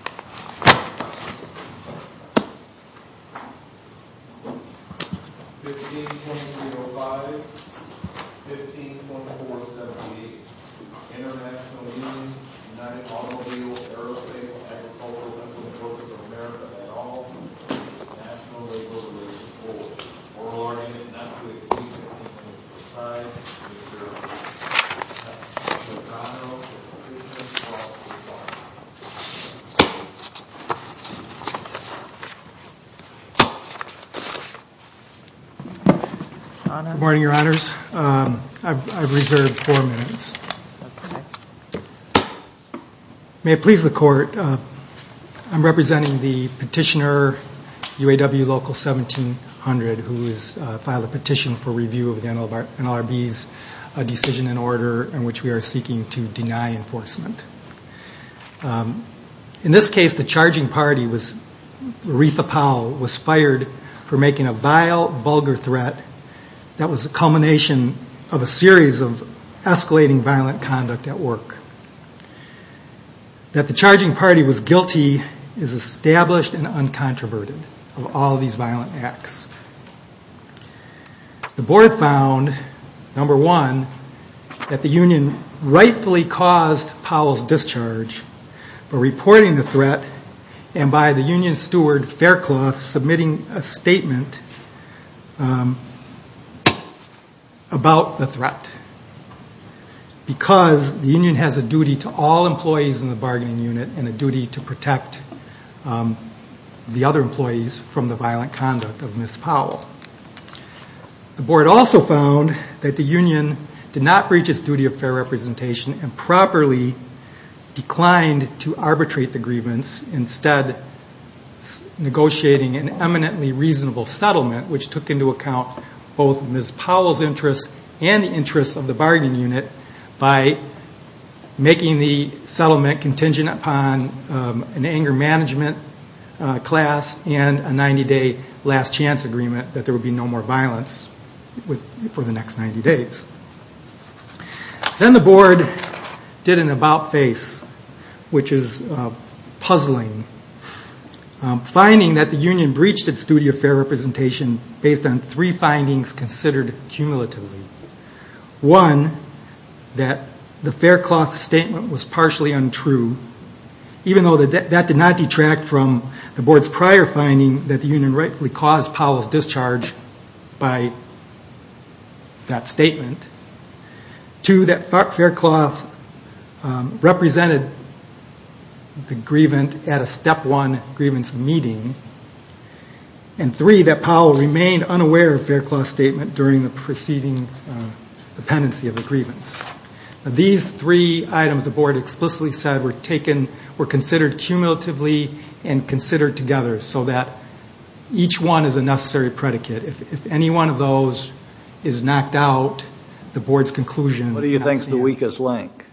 15.305, 15.478, International Union of United Automobile, Aerospace, and Agricultural Good morning, your honors. I've reserved four minutes. May it please the court, I'm representing the petitioner, UAW Local 1700, who has filed a petition for review of NLRB's decision and order in which we are seeking to deny enforcement. In this case, the charging party, Aretha Powell, was fired for making a vile, vulgar threat that was a culmination of a series of escalating violent conduct at work. That the charging party was guilty is established and uncontroverted of all these violent acts. The board found, number one, that the union rightfully caused Powell's discharge for reporting the threat and by the union steward, Faircloth, submitting a statement about the threat. Because the union has a duty to all employees in the bargaining unit and a duty to protect the other employees from the violent conduct of Ms. Powell. The board also found that the union did not reach its duty of fair representation and properly declined to arbitrate the grievance, instead negotiating an eminently reasonable settlement, which took into account both Ms. Powell's interests and the interests of the bargaining unit, by making the settlement contingent upon an anger management class and a 90-day last chance agreement that there would be no more violence for the next 90 days. Then the board did an about-face, which is puzzling, finding that the union breached its duty of fair representation based on three findings considered cumulatively. One, that the Faircloth statement was partially untrue, even though that did not detract from the board's prior finding that the union rightfully caused Powell's discharge by that statement. Two, that Faircloth represented the grievant at a step one grievance meeting. And three, that Powell remained unaware of Faircloth's statement during the preceding dependency of the grievance. These three items the board explicitly said were taken, were considered cumulatively and considered together so that each one is a necessary predicate. If any one of those is knocked out, the board's conclusion- What do you think is the weakest link?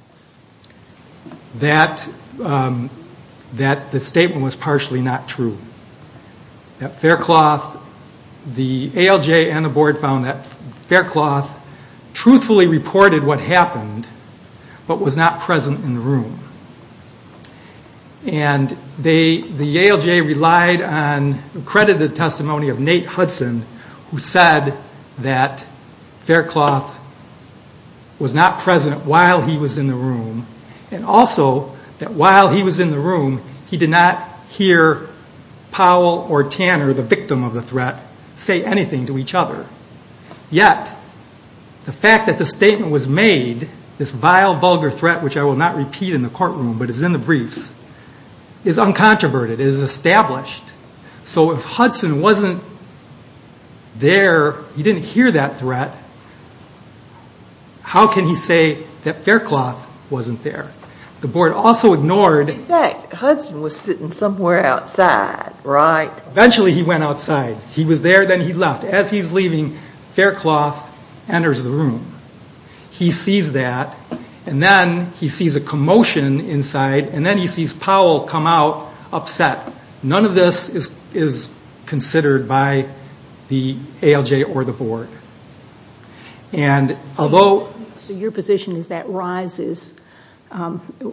That the statement was partially not true. That Faircloth, the ALJ and the board found that Faircloth truthfully reported what happened, but was not present in the room. And the ALJ relied on accredited testimony of Nate Hudson, who said that Faircloth was not present while he was in the room. And also, that while he was in the room, he did not hear Powell or Tanner, the victim of the threat, say anything to each other. Yet, the fact that the statement was made, this vile, vulgar threat, which I will not repeat in the courtroom, but is in the briefs, is uncontroverted, is established. So if Hudson wasn't there, he didn't hear that threat, how can he say that Faircloth wasn't there? The board also ignored- In fact, Hudson was sitting somewhere outside, right? Eventually he went outside. He was there, then he left. As he's leaving, Faircloth enters the room. He sees that, and then he sees a commotion inside, and then he sees Powell come out upset. None of this is considered by the ALJ or the board. And although- It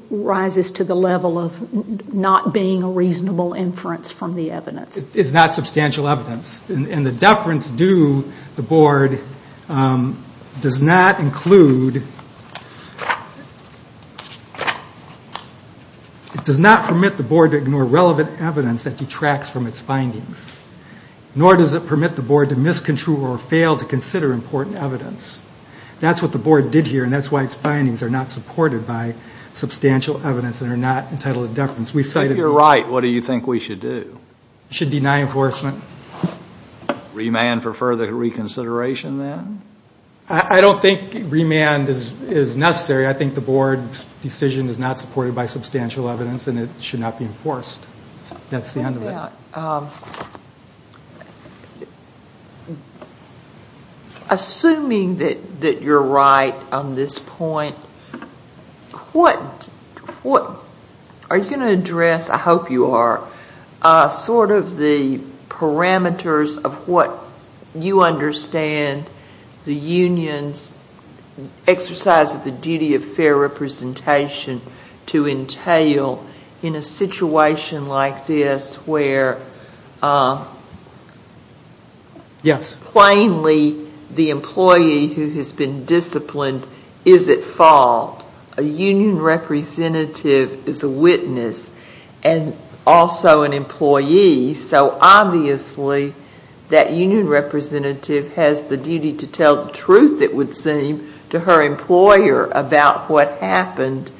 rises to the level of not being a reasonable inference from the evidence. It's not substantial evidence. And the deference due the board does not include- It does not permit the board to ignore relevant evidence that detracts from its findings. Nor does it permit the board to miscontrol or fail to consider important evidence. That's what the board did here, and that's why its findings are not supported by substantial evidence and are not entitled to deference. We cited- If you're right, what do you think we should do? Should deny enforcement. Remand for further reconsideration, then? I don't think remand is necessary. I think the board's decision is not supported by substantial evidence, Assuming that you're right on this point, are you going to address- I hope you are- sort of the parameters of what you understand the union's exercise of the duty of fair representation to entail in a situation like this where- Yes. Plainly, the employee who has been disciplined is at fault. A union representative is a witness and also an employee, so obviously that union representative has the duty to tell the truth, it would seem, to her employer about what happened.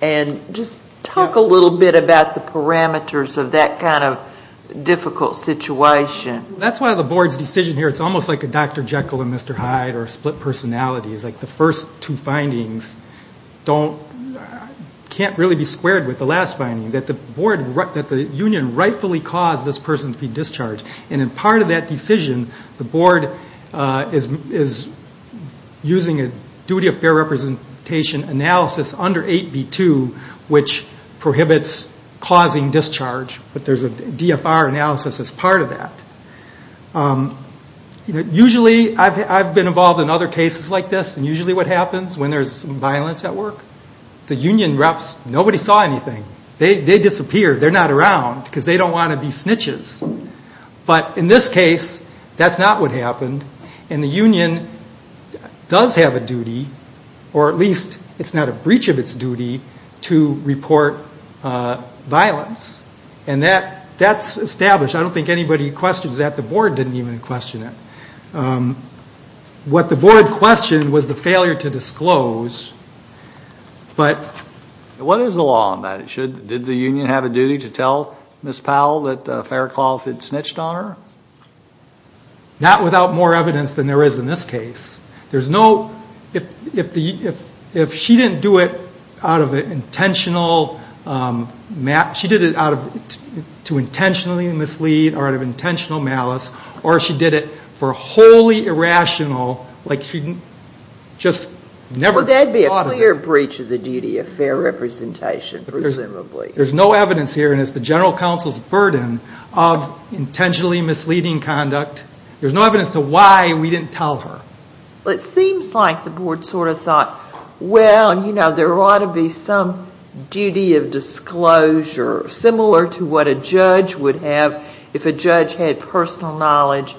And just talk a little bit about the parameters of that kind of difficult situation. That's why the board's decision here, it's almost like a Dr. Jekyll and Mr. Hyde or split personalities. Like the first two findings don't- can't really be squared with the last finding, that the board- that the union rightfully caused this person to be discharged. And in part of that decision, the board is using a duty of fair representation analysis under 8B2, which prohibits causing discharge, but there's a DFR analysis as part of that. Usually, I've been involved in other cases like this, and usually what happens when there's violence at work, the union reps, nobody saw anything. They disappeared. They're not around because they don't want to be snitches. But in this case, that's not what happened, and the union does have a duty, or at least it's not a breach of its duty, to report violence. And that's established. I don't think anybody questions that. The board didn't even question it. What the board questioned was the failure to disclose, but- Ms. Powell, that Faircloth had snitched on her? Not without more evidence than there is in this case. There's no- if the- if she didn't do it out of intentional- she did it out of- to intentionally mislead, or out of intentional malice, or she did it for wholly irrational, like she just never thought of it. Well, that'd be a clear breach of the duty of fair representation, presumably. There's no evidence here, and it's the general counsel's burden of intentionally misleading conduct. There's no evidence to why we didn't tell her. Well, it seems like the board sort of thought, well, you know, there ought to be some duty of disclosure, similar to what a judge would have if a judge had personal knowledge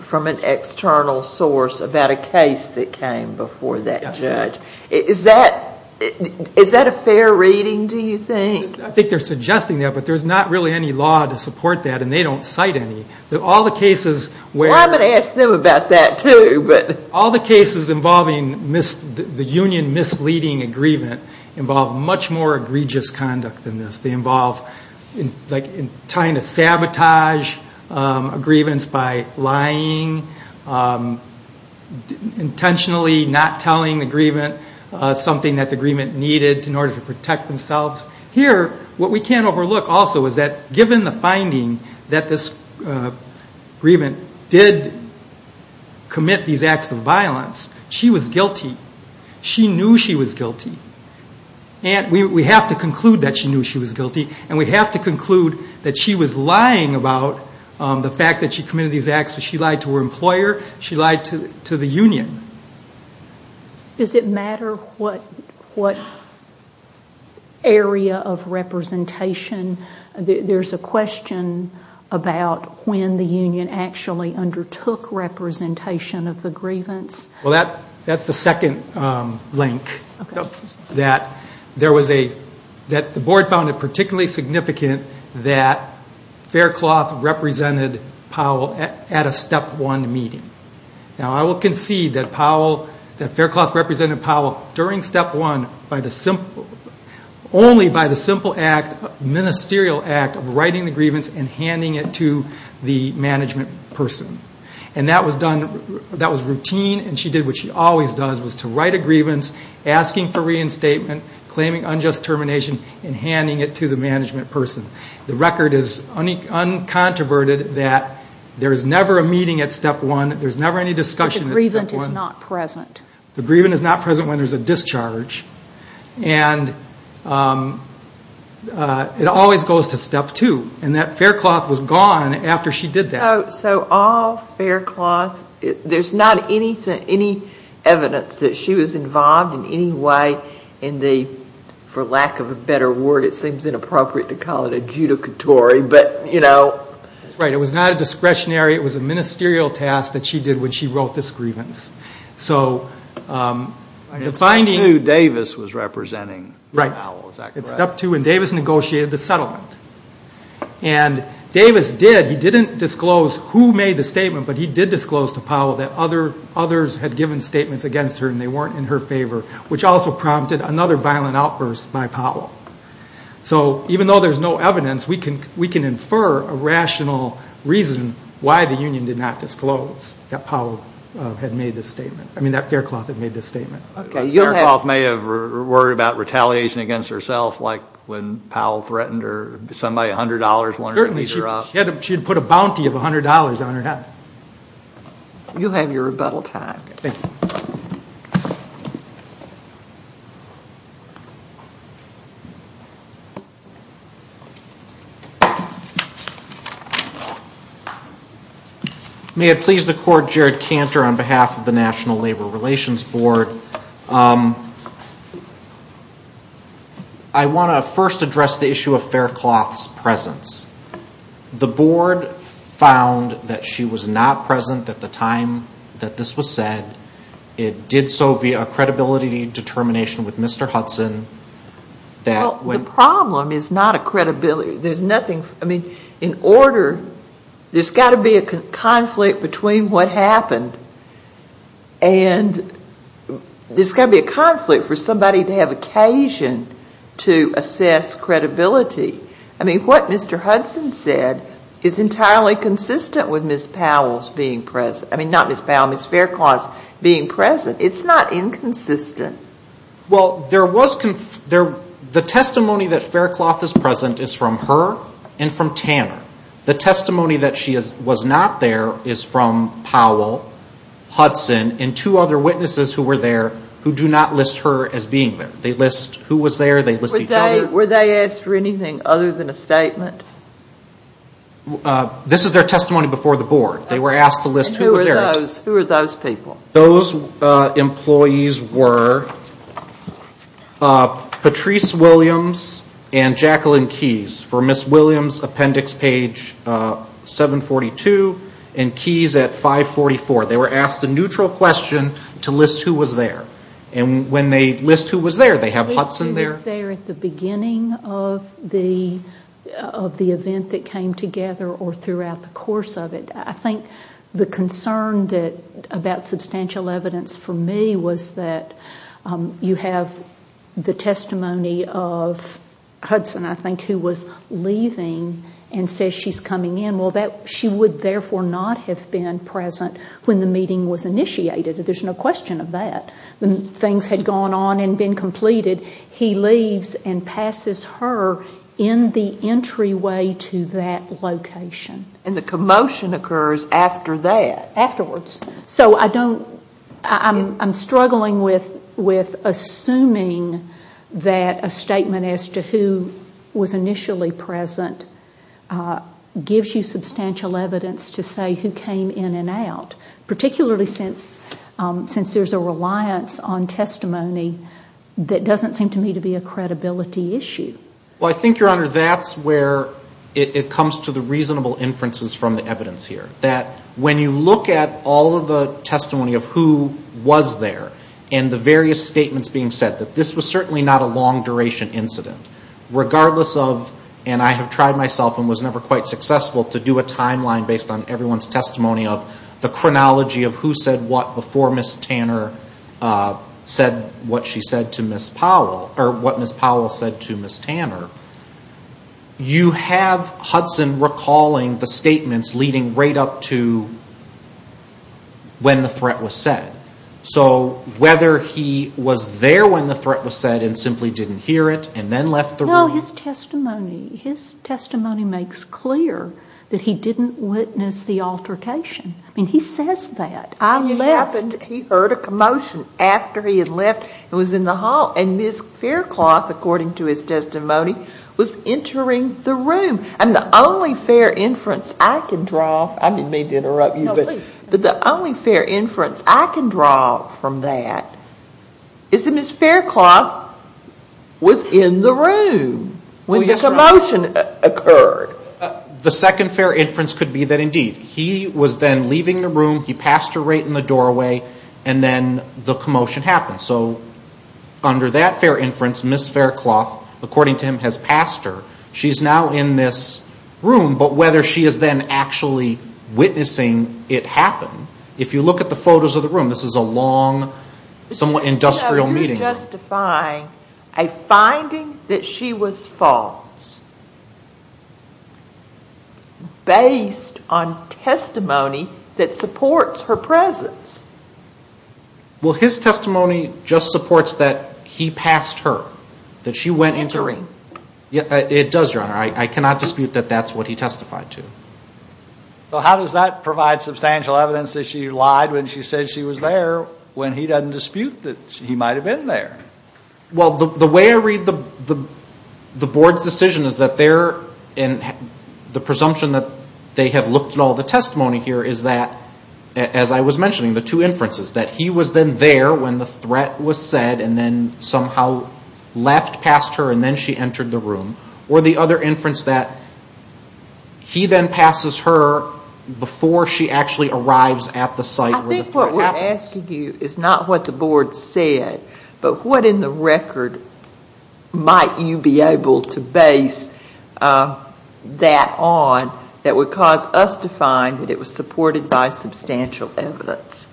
from an external source about a case that came before that judge. Is that a fair reading, do you think? I think they're suggesting that, but there's not really any law to support that, and they don't cite any. All the cases where- Well, I'm going to ask them about that, too, but- All the cases involving the union misleading agreement involve much more egregious conduct than this. They involve, like, trying to sabotage a grievance by lying, intentionally not telling the grievance, something that the grievance needed in order to protect themselves. Here, what we can't overlook, also, is that given the finding that this grievance did commit these acts of violence, she was guilty. She knew she was guilty. And we have to conclude that she knew she was guilty, and we have to conclude that she was lying about the fact that she committed these acts. She lied to her employer. She lied to the union. Does it matter what area of representation? There's a question about when the union actually undertook representation of the grievance. Well, that's the second link, that the board found it particularly significant that Faircloth represented Powell at a Step 1 meeting. Now, I will concede that Faircloth represented Powell during Step 1 only by the simple act, ministerial act, of writing the grievance and handing it to the management person. And that was routine, and she did what she always does, was to write a grievance, asking for reinstatement, claiming unjust termination, and handing it to the that there's never a meeting at Step 1, there's never any discussion at Step 1. But the grievance is not present. The grievance is not present when there's a discharge. And it always goes to Step 2. And that Faircloth was gone after she did that. So all Faircloth, there's not any evidence that she was involved in any way in the, for lack of a better word, it seems inappropriate to call it adjudicatory, but, you know. That's right. It was not a discretionary, it was a ministerial task that she did when she wrote this grievance. And at Step 2, Davis was representing Powell, is that correct? Right. At Step 2, and Davis negotiated the settlement. And Davis did, he didn't disclose who made the statement, but he did disclose to Powell that others had given statements against her and they weren't in her favor, which also prompted another violent outburst by Powell. So even though there's no evidence, we can infer a rational reason why the union did not disclose that Powell had made this statement. I mean, that Faircloth had made this statement. Okay. Faircloth may have worried about retaliation against herself, like when Powell threatened her, somebody, $100, wanted to beat her up. Certainly. She had put a bounty of $100 on her head. You have your rebuttal time. Thank you. May it please the Court, Jared Cantor on behalf of the National Labor Relations Board. I want to first address the issue of Faircloth's presence. The board found that she was not present at the time that this was said. It did so via a credibility determination with Mr. Hudson. Well, the problem is not a credibility. There's nothing, I mean, in order, there's got to be a conflict between what happened and there's got to be a conflict for somebody to have occasion to assess credibility. I mean, what Mr. Hudson said is entirely consistent with Ms. Faircloth's being present. It's not inconsistent. Well, the testimony that Faircloth is present is from her and from Tanner. The testimony that she was not there is from Powell, Hudson, and two other witnesses who were there who do not list her as being there. They list who was there, they list each other. Were they asked for anything other than a statement? This is their testimony before the board. They were asked to list who was there. Who were those people? Those employees were Patrice Williams and Jacqueline Keys for Ms. Williams' appendix page 742 and Keys at 544. They were asked a neutral question to list who was there. And when they list who was there, they have Hudson there? They list who was there at the beginning of the event that came together or throughout the course of it. I think the concern about substantial evidence for me was that you have the testimony of Hudson, I think, who was leaving and says she's coming in. Well, she would therefore not have been present when the meeting was initiated. There's no question of that. When things had gone on and been completed, he leaves and passes her in the entryway to that location. And the commotion occurs after that? Afterwards. I'm struggling with assuming that a statement as to who was initially present gives you substantial evidence to say who came in and out, particularly since there's a reliance on testimony that doesn't seem to me to be a credibility issue. Well, I think, Your Honor, that's where it comes to the reasonable inferences from the evidence here. That when you look at all of the testimony of who was there and the various statements being said, that this was certainly not a long-duration incident. Regardless of, and I have tried myself and was never quite successful to do a timeline based on everyone's testimony of the chronology of who said what before Ms. Tanner said what she said to Ms. Powell, or what Ms. Powell said to Ms. Tanner, you have Hudson recalling the statements leading right up to when the threat was said. So whether he was there when the threat was said and simply didn't hear it and then left the room. No, his testimony, his testimony makes clear that he didn't witness the altercation. I mean, he says that. I left. He heard a commotion after he had left and was in the hall. And Ms. Faircloth, according to his testimony, was entering the room. And the only fair inference I can draw, I didn't mean to interrupt but the only fair inference I can draw from that is that Ms. Faircloth was in the room when the commotion occurred. The second fair inference could be that indeed, he was then leaving the room, he passed her right in the doorway, and then the commotion happened. So under that fair inference, Ms. Faircloth, according to him, has passed her. She's now in this room, but whether she is then actually witnessing it happen, if you look at the photos of the room, this is a long, somewhat industrial meeting. You're justifying a finding that she was false, based on testimony that supports her presence. Well, his testimony just supports that he passed her, that she went into the room. It does, Your Honor. I cannot dispute that that's what he testified to. So how does that provide substantial evidence that she lied when she said she was there, when he doesn't dispute that he might have been there? Well, the way I read the board's decision is that they're, and the presumption that they have looked at all the testimony here is that, as I was mentioning, the two inferences, that he was then there when the threat was said and then somehow left past her and then she passes her before she actually arrives at the site where the threat happens. I think what we're asking you is not what the board said, but what in the record might you be able to base that on that would cause us to find that it was supported by substantial evidence?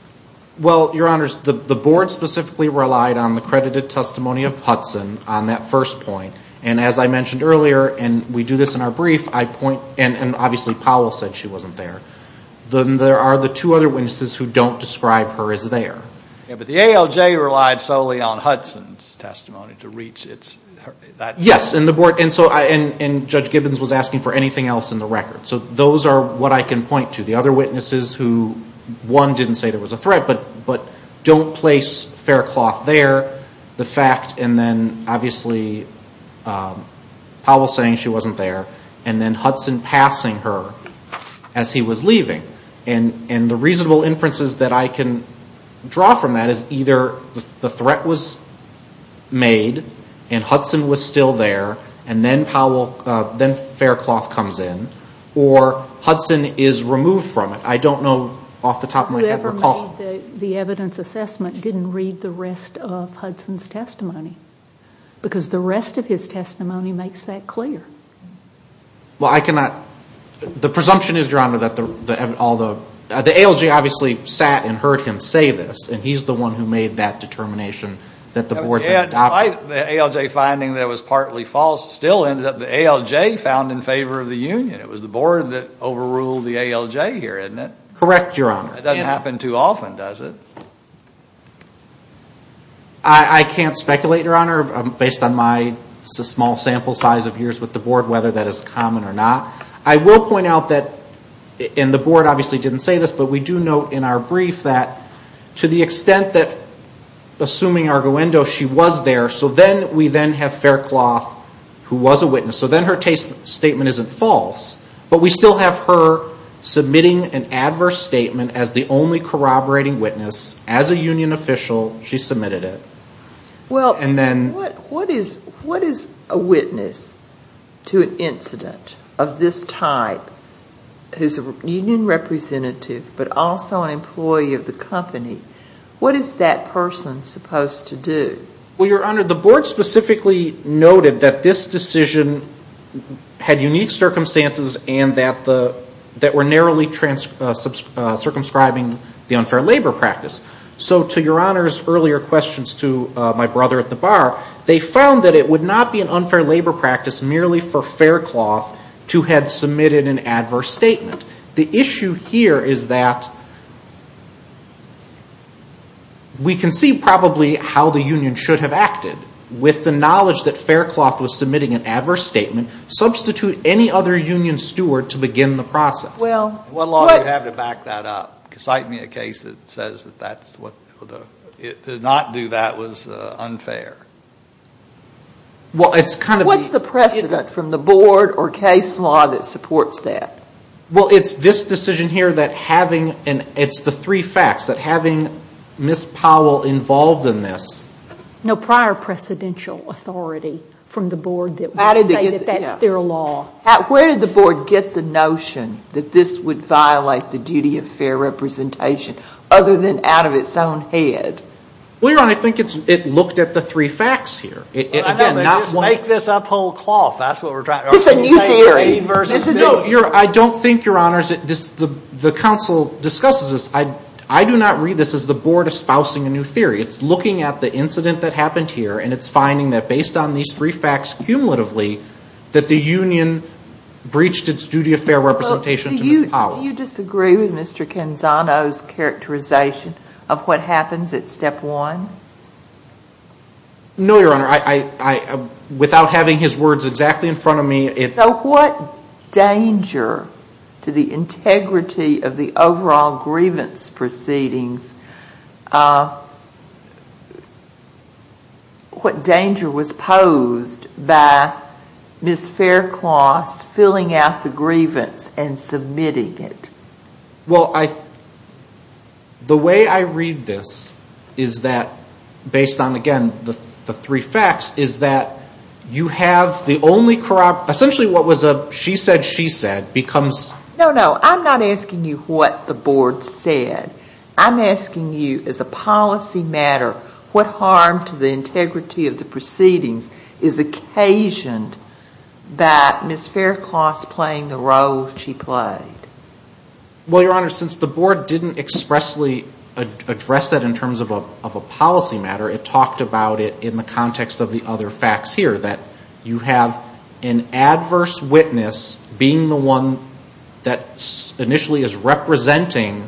Well, Your Honors, the board specifically relied on the credited testimony of Hudson on that first point. And as I mentioned earlier, and we do this in our brief, I point, and obviously Powell said she wasn't there. There are the two other witnesses who don't describe her as there. Yeah, but the ALJ relied solely on Hudson's testimony to reach that point. Yes, and Judge Gibbons was asking for anything else in the record. So those are what I can point to. The other witnesses who, one, didn't say there was a threat, but don't place Faircloth there. The fact, and then obviously Powell saying she wasn't there and then Hudson passing her as he was leaving. And the reasonable inferences that I can draw from that is either the threat was made and Hudson was still there and then Faircloth comes in or Hudson is removed from it. I don't know off the top of my head. The evidence assessment didn't read the rest of Hudson's testimony, because the rest of his testimony makes that clear. Well, I cannot, the presumption is, Your Honor, that all the, the ALJ obviously sat and heard him say this, and he's the one who made that determination that the board adopted. Yeah, despite the ALJ finding that it was partly false, it still ended up the ALJ found in favor of the union. It was the board that overruled the ALJ here, isn't it? Correct, Your Honor. It doesn't happen too often, does it? I can't speculate, Your Honor, based on my small sample size of years with the board, whether that is common or not. I will point out that, and the board obviously didn't say this, but we do note in our brief that to the extent that, assuming Arguendo, she was there, so then we then have Faircloth, who was a witness. So then her statement isn't false, but we still have her submitting an adverse statement as the only corroborating witness, as a union official, she submitted it. Well, what is a witness to an incident of this type, who's a union representative, but also an employee of the company? What is that person supposed to do? Well, Your Honor, the board specifically noted that this decision had unique circumstances and that were narrowly circumscribing the unfair labor practice. So to Your Honor's earlier questions to my brother at the bar, they found that it would not be an unfair labor practice merely for Faircloth to have submitted an adverse statement. The issue here is that we can see probably how the union should have acted with the knowledge that Faircloth was steward to begin the process. Well. What law do you have to back that up? Cite me a case that says that to not do that was unfair. Well, it's kind of. What's the precedent from the board or case law that supports that? Well, it's this decision here that having, and it's the three facts, that having Ms. Powell involved in this. No prior precedential authority from the board that would say that that's their law. Where did the board get the notion that this would violate the duty of fair representation other than out of its own head? Well, Your Honor, I think it looked at the three facts here. Make this up whole cloth. That's what we're trying. It's a new theory. I don't think, Your Honors, the council discusses this. I do not read this as the board espousing a new theory. It's looking at the incident that happened here and it's the union breached its duty of fair representation to Ms. Powell. Do you disagree with Mr. Canzano's characterization of what happens at step one? No, Your Honor. Without having his words exactly in front of me, if. So what danger to the integrity of the overall grievance proceedings, what danger was posed by Ms. Faircloth filling out the grievance and submitting it? Well, the way I read this is that, based on, again, the three facts, is that you have the only corrupt, essentially what was a she said, she said becomes. No, no. I'm not asking you what the board said. I'm asking you, as a policy matter, what harm to the integrity of the proceedings is occasioned that Ms. Faircloth's playing the role she played? Well, Your Honor, since the board didn't expressly address that in terms of a policy matter, it talked about it in the context of the other facts here, that you have an adverse witness being the one that initially is representing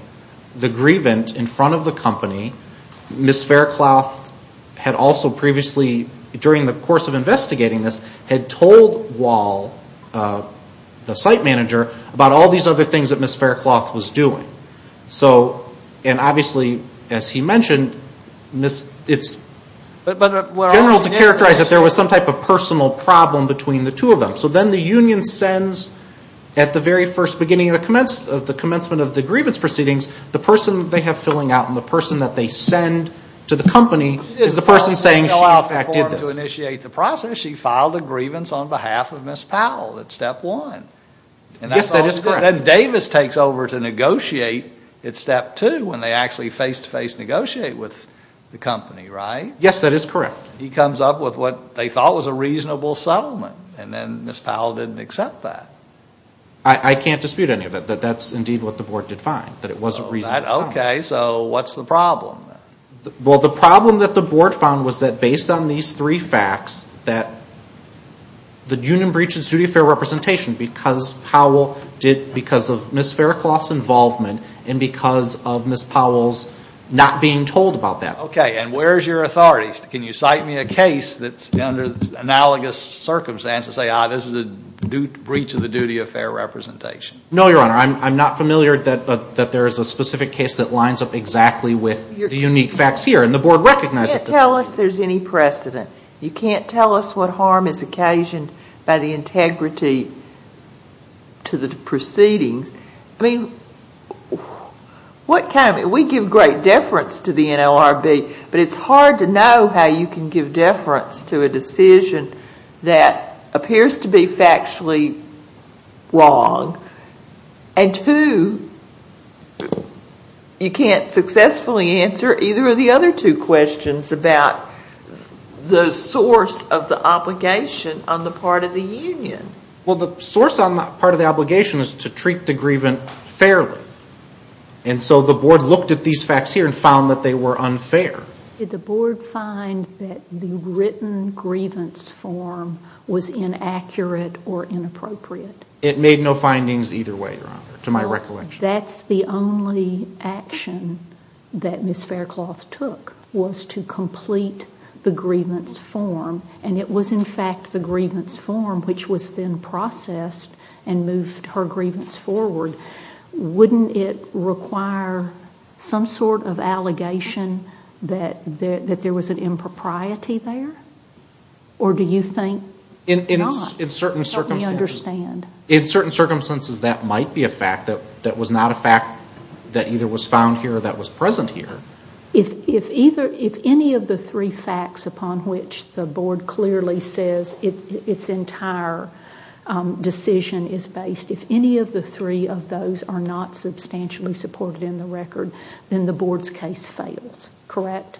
the grievance in front of the company. Ms. Faircloth had also previously, during the course of investigating this, had told Wall, the site manager, about all these other things that Ms. Faircloth was doing. And obviously, as he mentioned, it's general to characterize that there was some type of at the very first beginning of the commencement of the grievance proceedings, the person they have filling out and the person that they send to the company is the person saying she in fact did this. She didn't file a single-out form to initiate the process. She filed a grievance on behalf of Ms. Powell at step one. Yes, that is correct. And then Davis takes over to negotiate at step two, when they actually face-to-face negotiate with the company, right? Yes, that is correct. He comes up with what they thought was a reasonable settlement, and then Ms. Powell didn't accept that. I can't dispute any of it, that that's indeed what the board did find, that it was a reasonable settlement. Okay, so what's the problem? Well, the problem that the board found was that based on these three facts, that the union breach and studio fare representation, because Powell did, because of Ms. Faircloth's involvement and because of Ms. Powell's not being told about that. Okay, and where's your authority? Can you cite me a case that's under analogous circumstances and say, ah, this is a breach of the duty of fare representation? No, Your Honor, I'm not familiar that there's a specific case that lines up exactly with the unique facts here, and the board recognizes this. You can't tell us there's any precedent. You can't tell us what harm is occasioned by the integrity to the proceedings. I mean, what kind of, we give great deference to the NLRB, but it's hard to know how you can give deference to a decision that appears to be factually wrong, and two, you can't successfully answer either of the other two questions about the source of the obligation on the part of the union. Well, the source on the part of the obligation is to treat the grievance fairly, and so the board looked at these facts here and found that they were unfair. Did the board find that the written grievance form was inaccurate or inappropriate? It made no findings either way, Your Honor, to my recollection. That's the only action that Ms. Faircloth took was to complete the grievance form, and it was in fact the grievance form which was then processed and moved her grievance forward. Wouldn't it require some sort of allegation that there was an impropriety there, or do you think it's not? In certain circumstances, that might be a fact. That was not a fact that either was found here or that was present here. If any of the three facts upon which the board clearly says its entire decision is based, if any of the three of those are not substantially supported in the record, then the board's case fails, correct?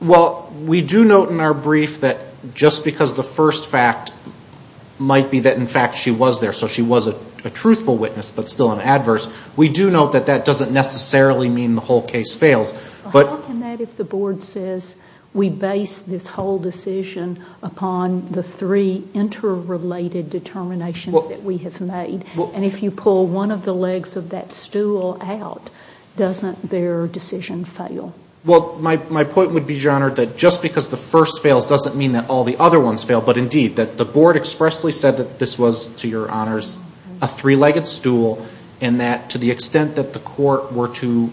Well, we do note in our brief that just because the first fact might be that in fact she was there, so she was a truthful witness but still an adverse, we do note that that doesn't necessarily mean the whole case fails. How can that if the board says we base this whole decision upon the three interrelated determinations that we have made, and if you pull one of the legs of that stool out, doesn't their decision fail? Well, my point would be, Your Honor, that just because the first fails doesn't mean that all the other ones fail, but indeed that the board expressly said that this was, to Your Honors, a three-legged stool and that to the extent that the court were to,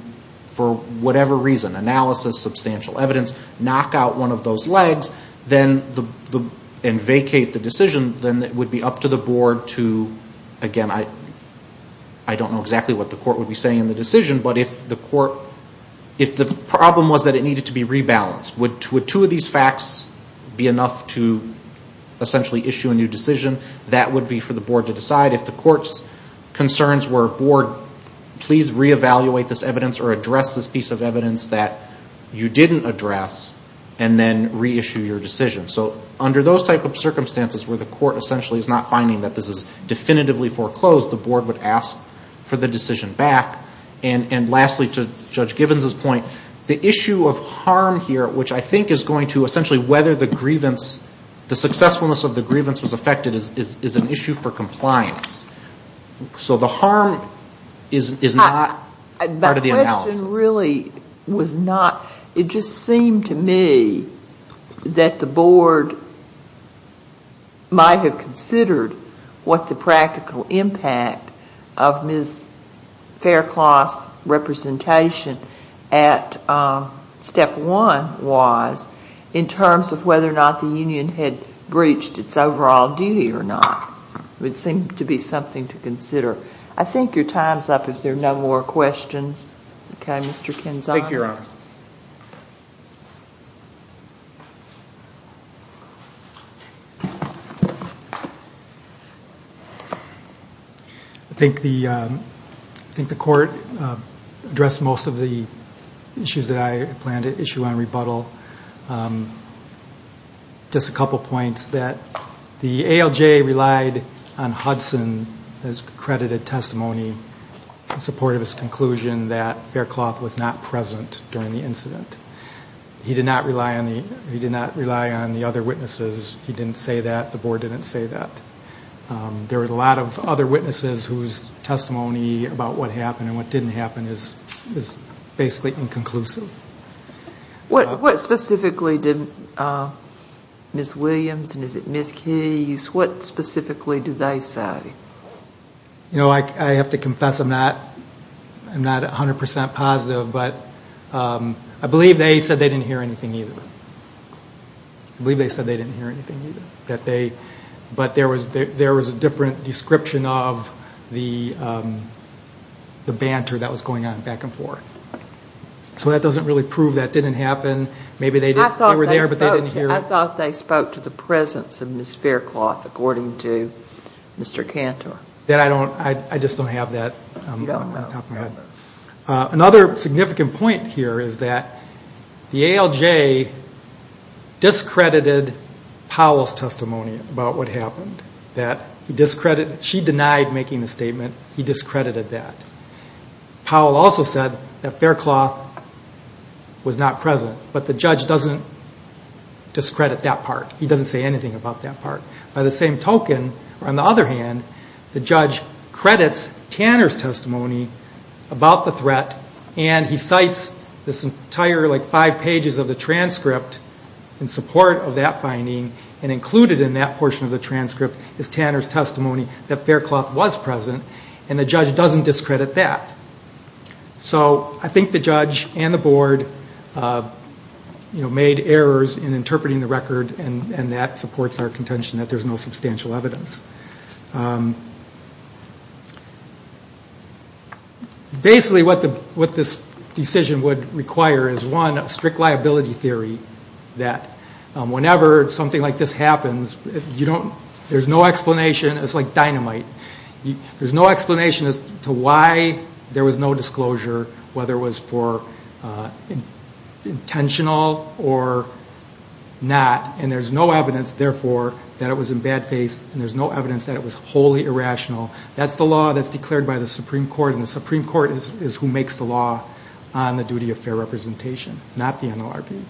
for whatever reason, analysis, substantial evidence, knock out one of those legs and vacate the decision, then it would be up to the board to, again, I don't know exactly what the court would be saying in the decision, but if the court, if the problem was that it needed to be rebalanced, would two of these facts be enough to essentially issue a new decision? That would be for the board to decide. If the court's concerns were, board, please reevaluate this evidence or address this evidence that you didn't address and then reissue your decision. So under those type of circumstances where the court essentially is not finding that this is definitively foreclosed, the board would ask for the decision back. And lastly, to Judge Gibbons' point, the issue of harm here, which I think is going to essentially whether the grievance, the successfulness of the grievance was affected is an issue for compliance. So the harm is not part of the analysis. Really was not, it just seemed to me that the board might have considered what the practical impact of Ms. Faircloth's representation at step one was in terms of whether or not the union had breached its overall duty or not. It would seem to be something to consider. I think your time's up if there are no more questions. Okay, Mr. Kinzon. I think the court addressed most of the issues that I planned to issue on rebuttal. Just a couple points that the ALJ relied on Hudson as accredited testimony in support of his conclusion that Faircloth was not present during the incident. He did not rely on the other witnesses. He didn't say that. The board didn't say that. There were a lot of other witnesses whose testimony about what happened and what didn't happen is basically inconclusive. What specifically did Ms. Williams and is it Ms. Keyes, what specifically do they say? You know, I have to confess I'm not 100% positive, but I believe they said they didn't hear anything either. I believe they said they didn't hear anything either. But there was a different description of the banter that was going on back and forth. So that doesn't really prove that didn't happen. I thought they spoke to the presence of Ms. Faircloth according to Mr. Cantor. I just don't have that. Another significant point here is that the ALJ discredited Powell's testimony about what happened. She denied making the statement. He discredited that. Powell also said that Faircloth was not present. But the judge doesn't discredit that part. He doesn't say anything about that part. By the same token, on the other hand, the judge credits Tanner's testimony about the threat and he cites this entire five pages of transcript in support of that finding and included in that portion of the transcript is Tanner's testimony that Faircloth was present and the judge doesn't discredit that. So I think the judge and the board, you know, made errors in interpreting the record and that supports our contention that there's no substantial evidence. Basically what this decision would require is one, a strict liability theory that whenever something like this happens, there's no explanation. It's like dynamite. There's no explanation as to why there was no disclosure, whether it was for intentional or not. And there's no evidence, therefore, that it was in bad faith and there's no evidence that it was wholly irrational. That's the law that's declared by the Supreme Court and the Supreme Court is who makes the law on the duty of fair representation, not the NLRB.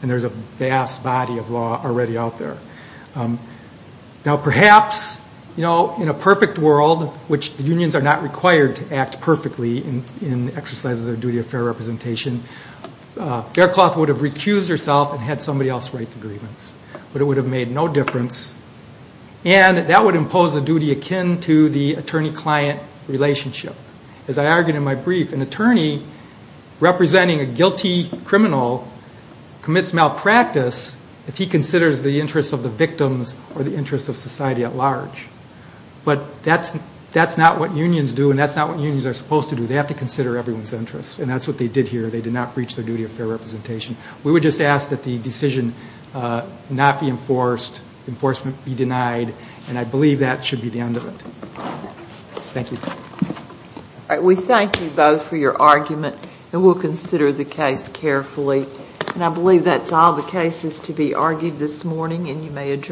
And there's a vast body of law already out there. Now perhaps, you know, in a perfect world, which the unions are not required to act perfectly in exercises of their duty of fair representation, Faircloth would have recused herself and had somebody else write the grievance. But it would have made no difference and that would impose a duty akin to the attorney-client relationship. As I argued in my brief, an attorney representing a guilty criminal commits malpractice if he considers the interests of the victims or the interests of society at large. But that's not what unions do and that's not what unions are supposed to do. They have to consider everyone's interests and that's what they did here. They did not breach their duty of fair representation. We would just ask that the decision not be enforced, enforcement be denied, and I believe that should be the end of it. Thank you. All right, we thank you both for your argument and we'll consider the case carefully. And I believe that's all the cases to be argued this morning and you may adjourn.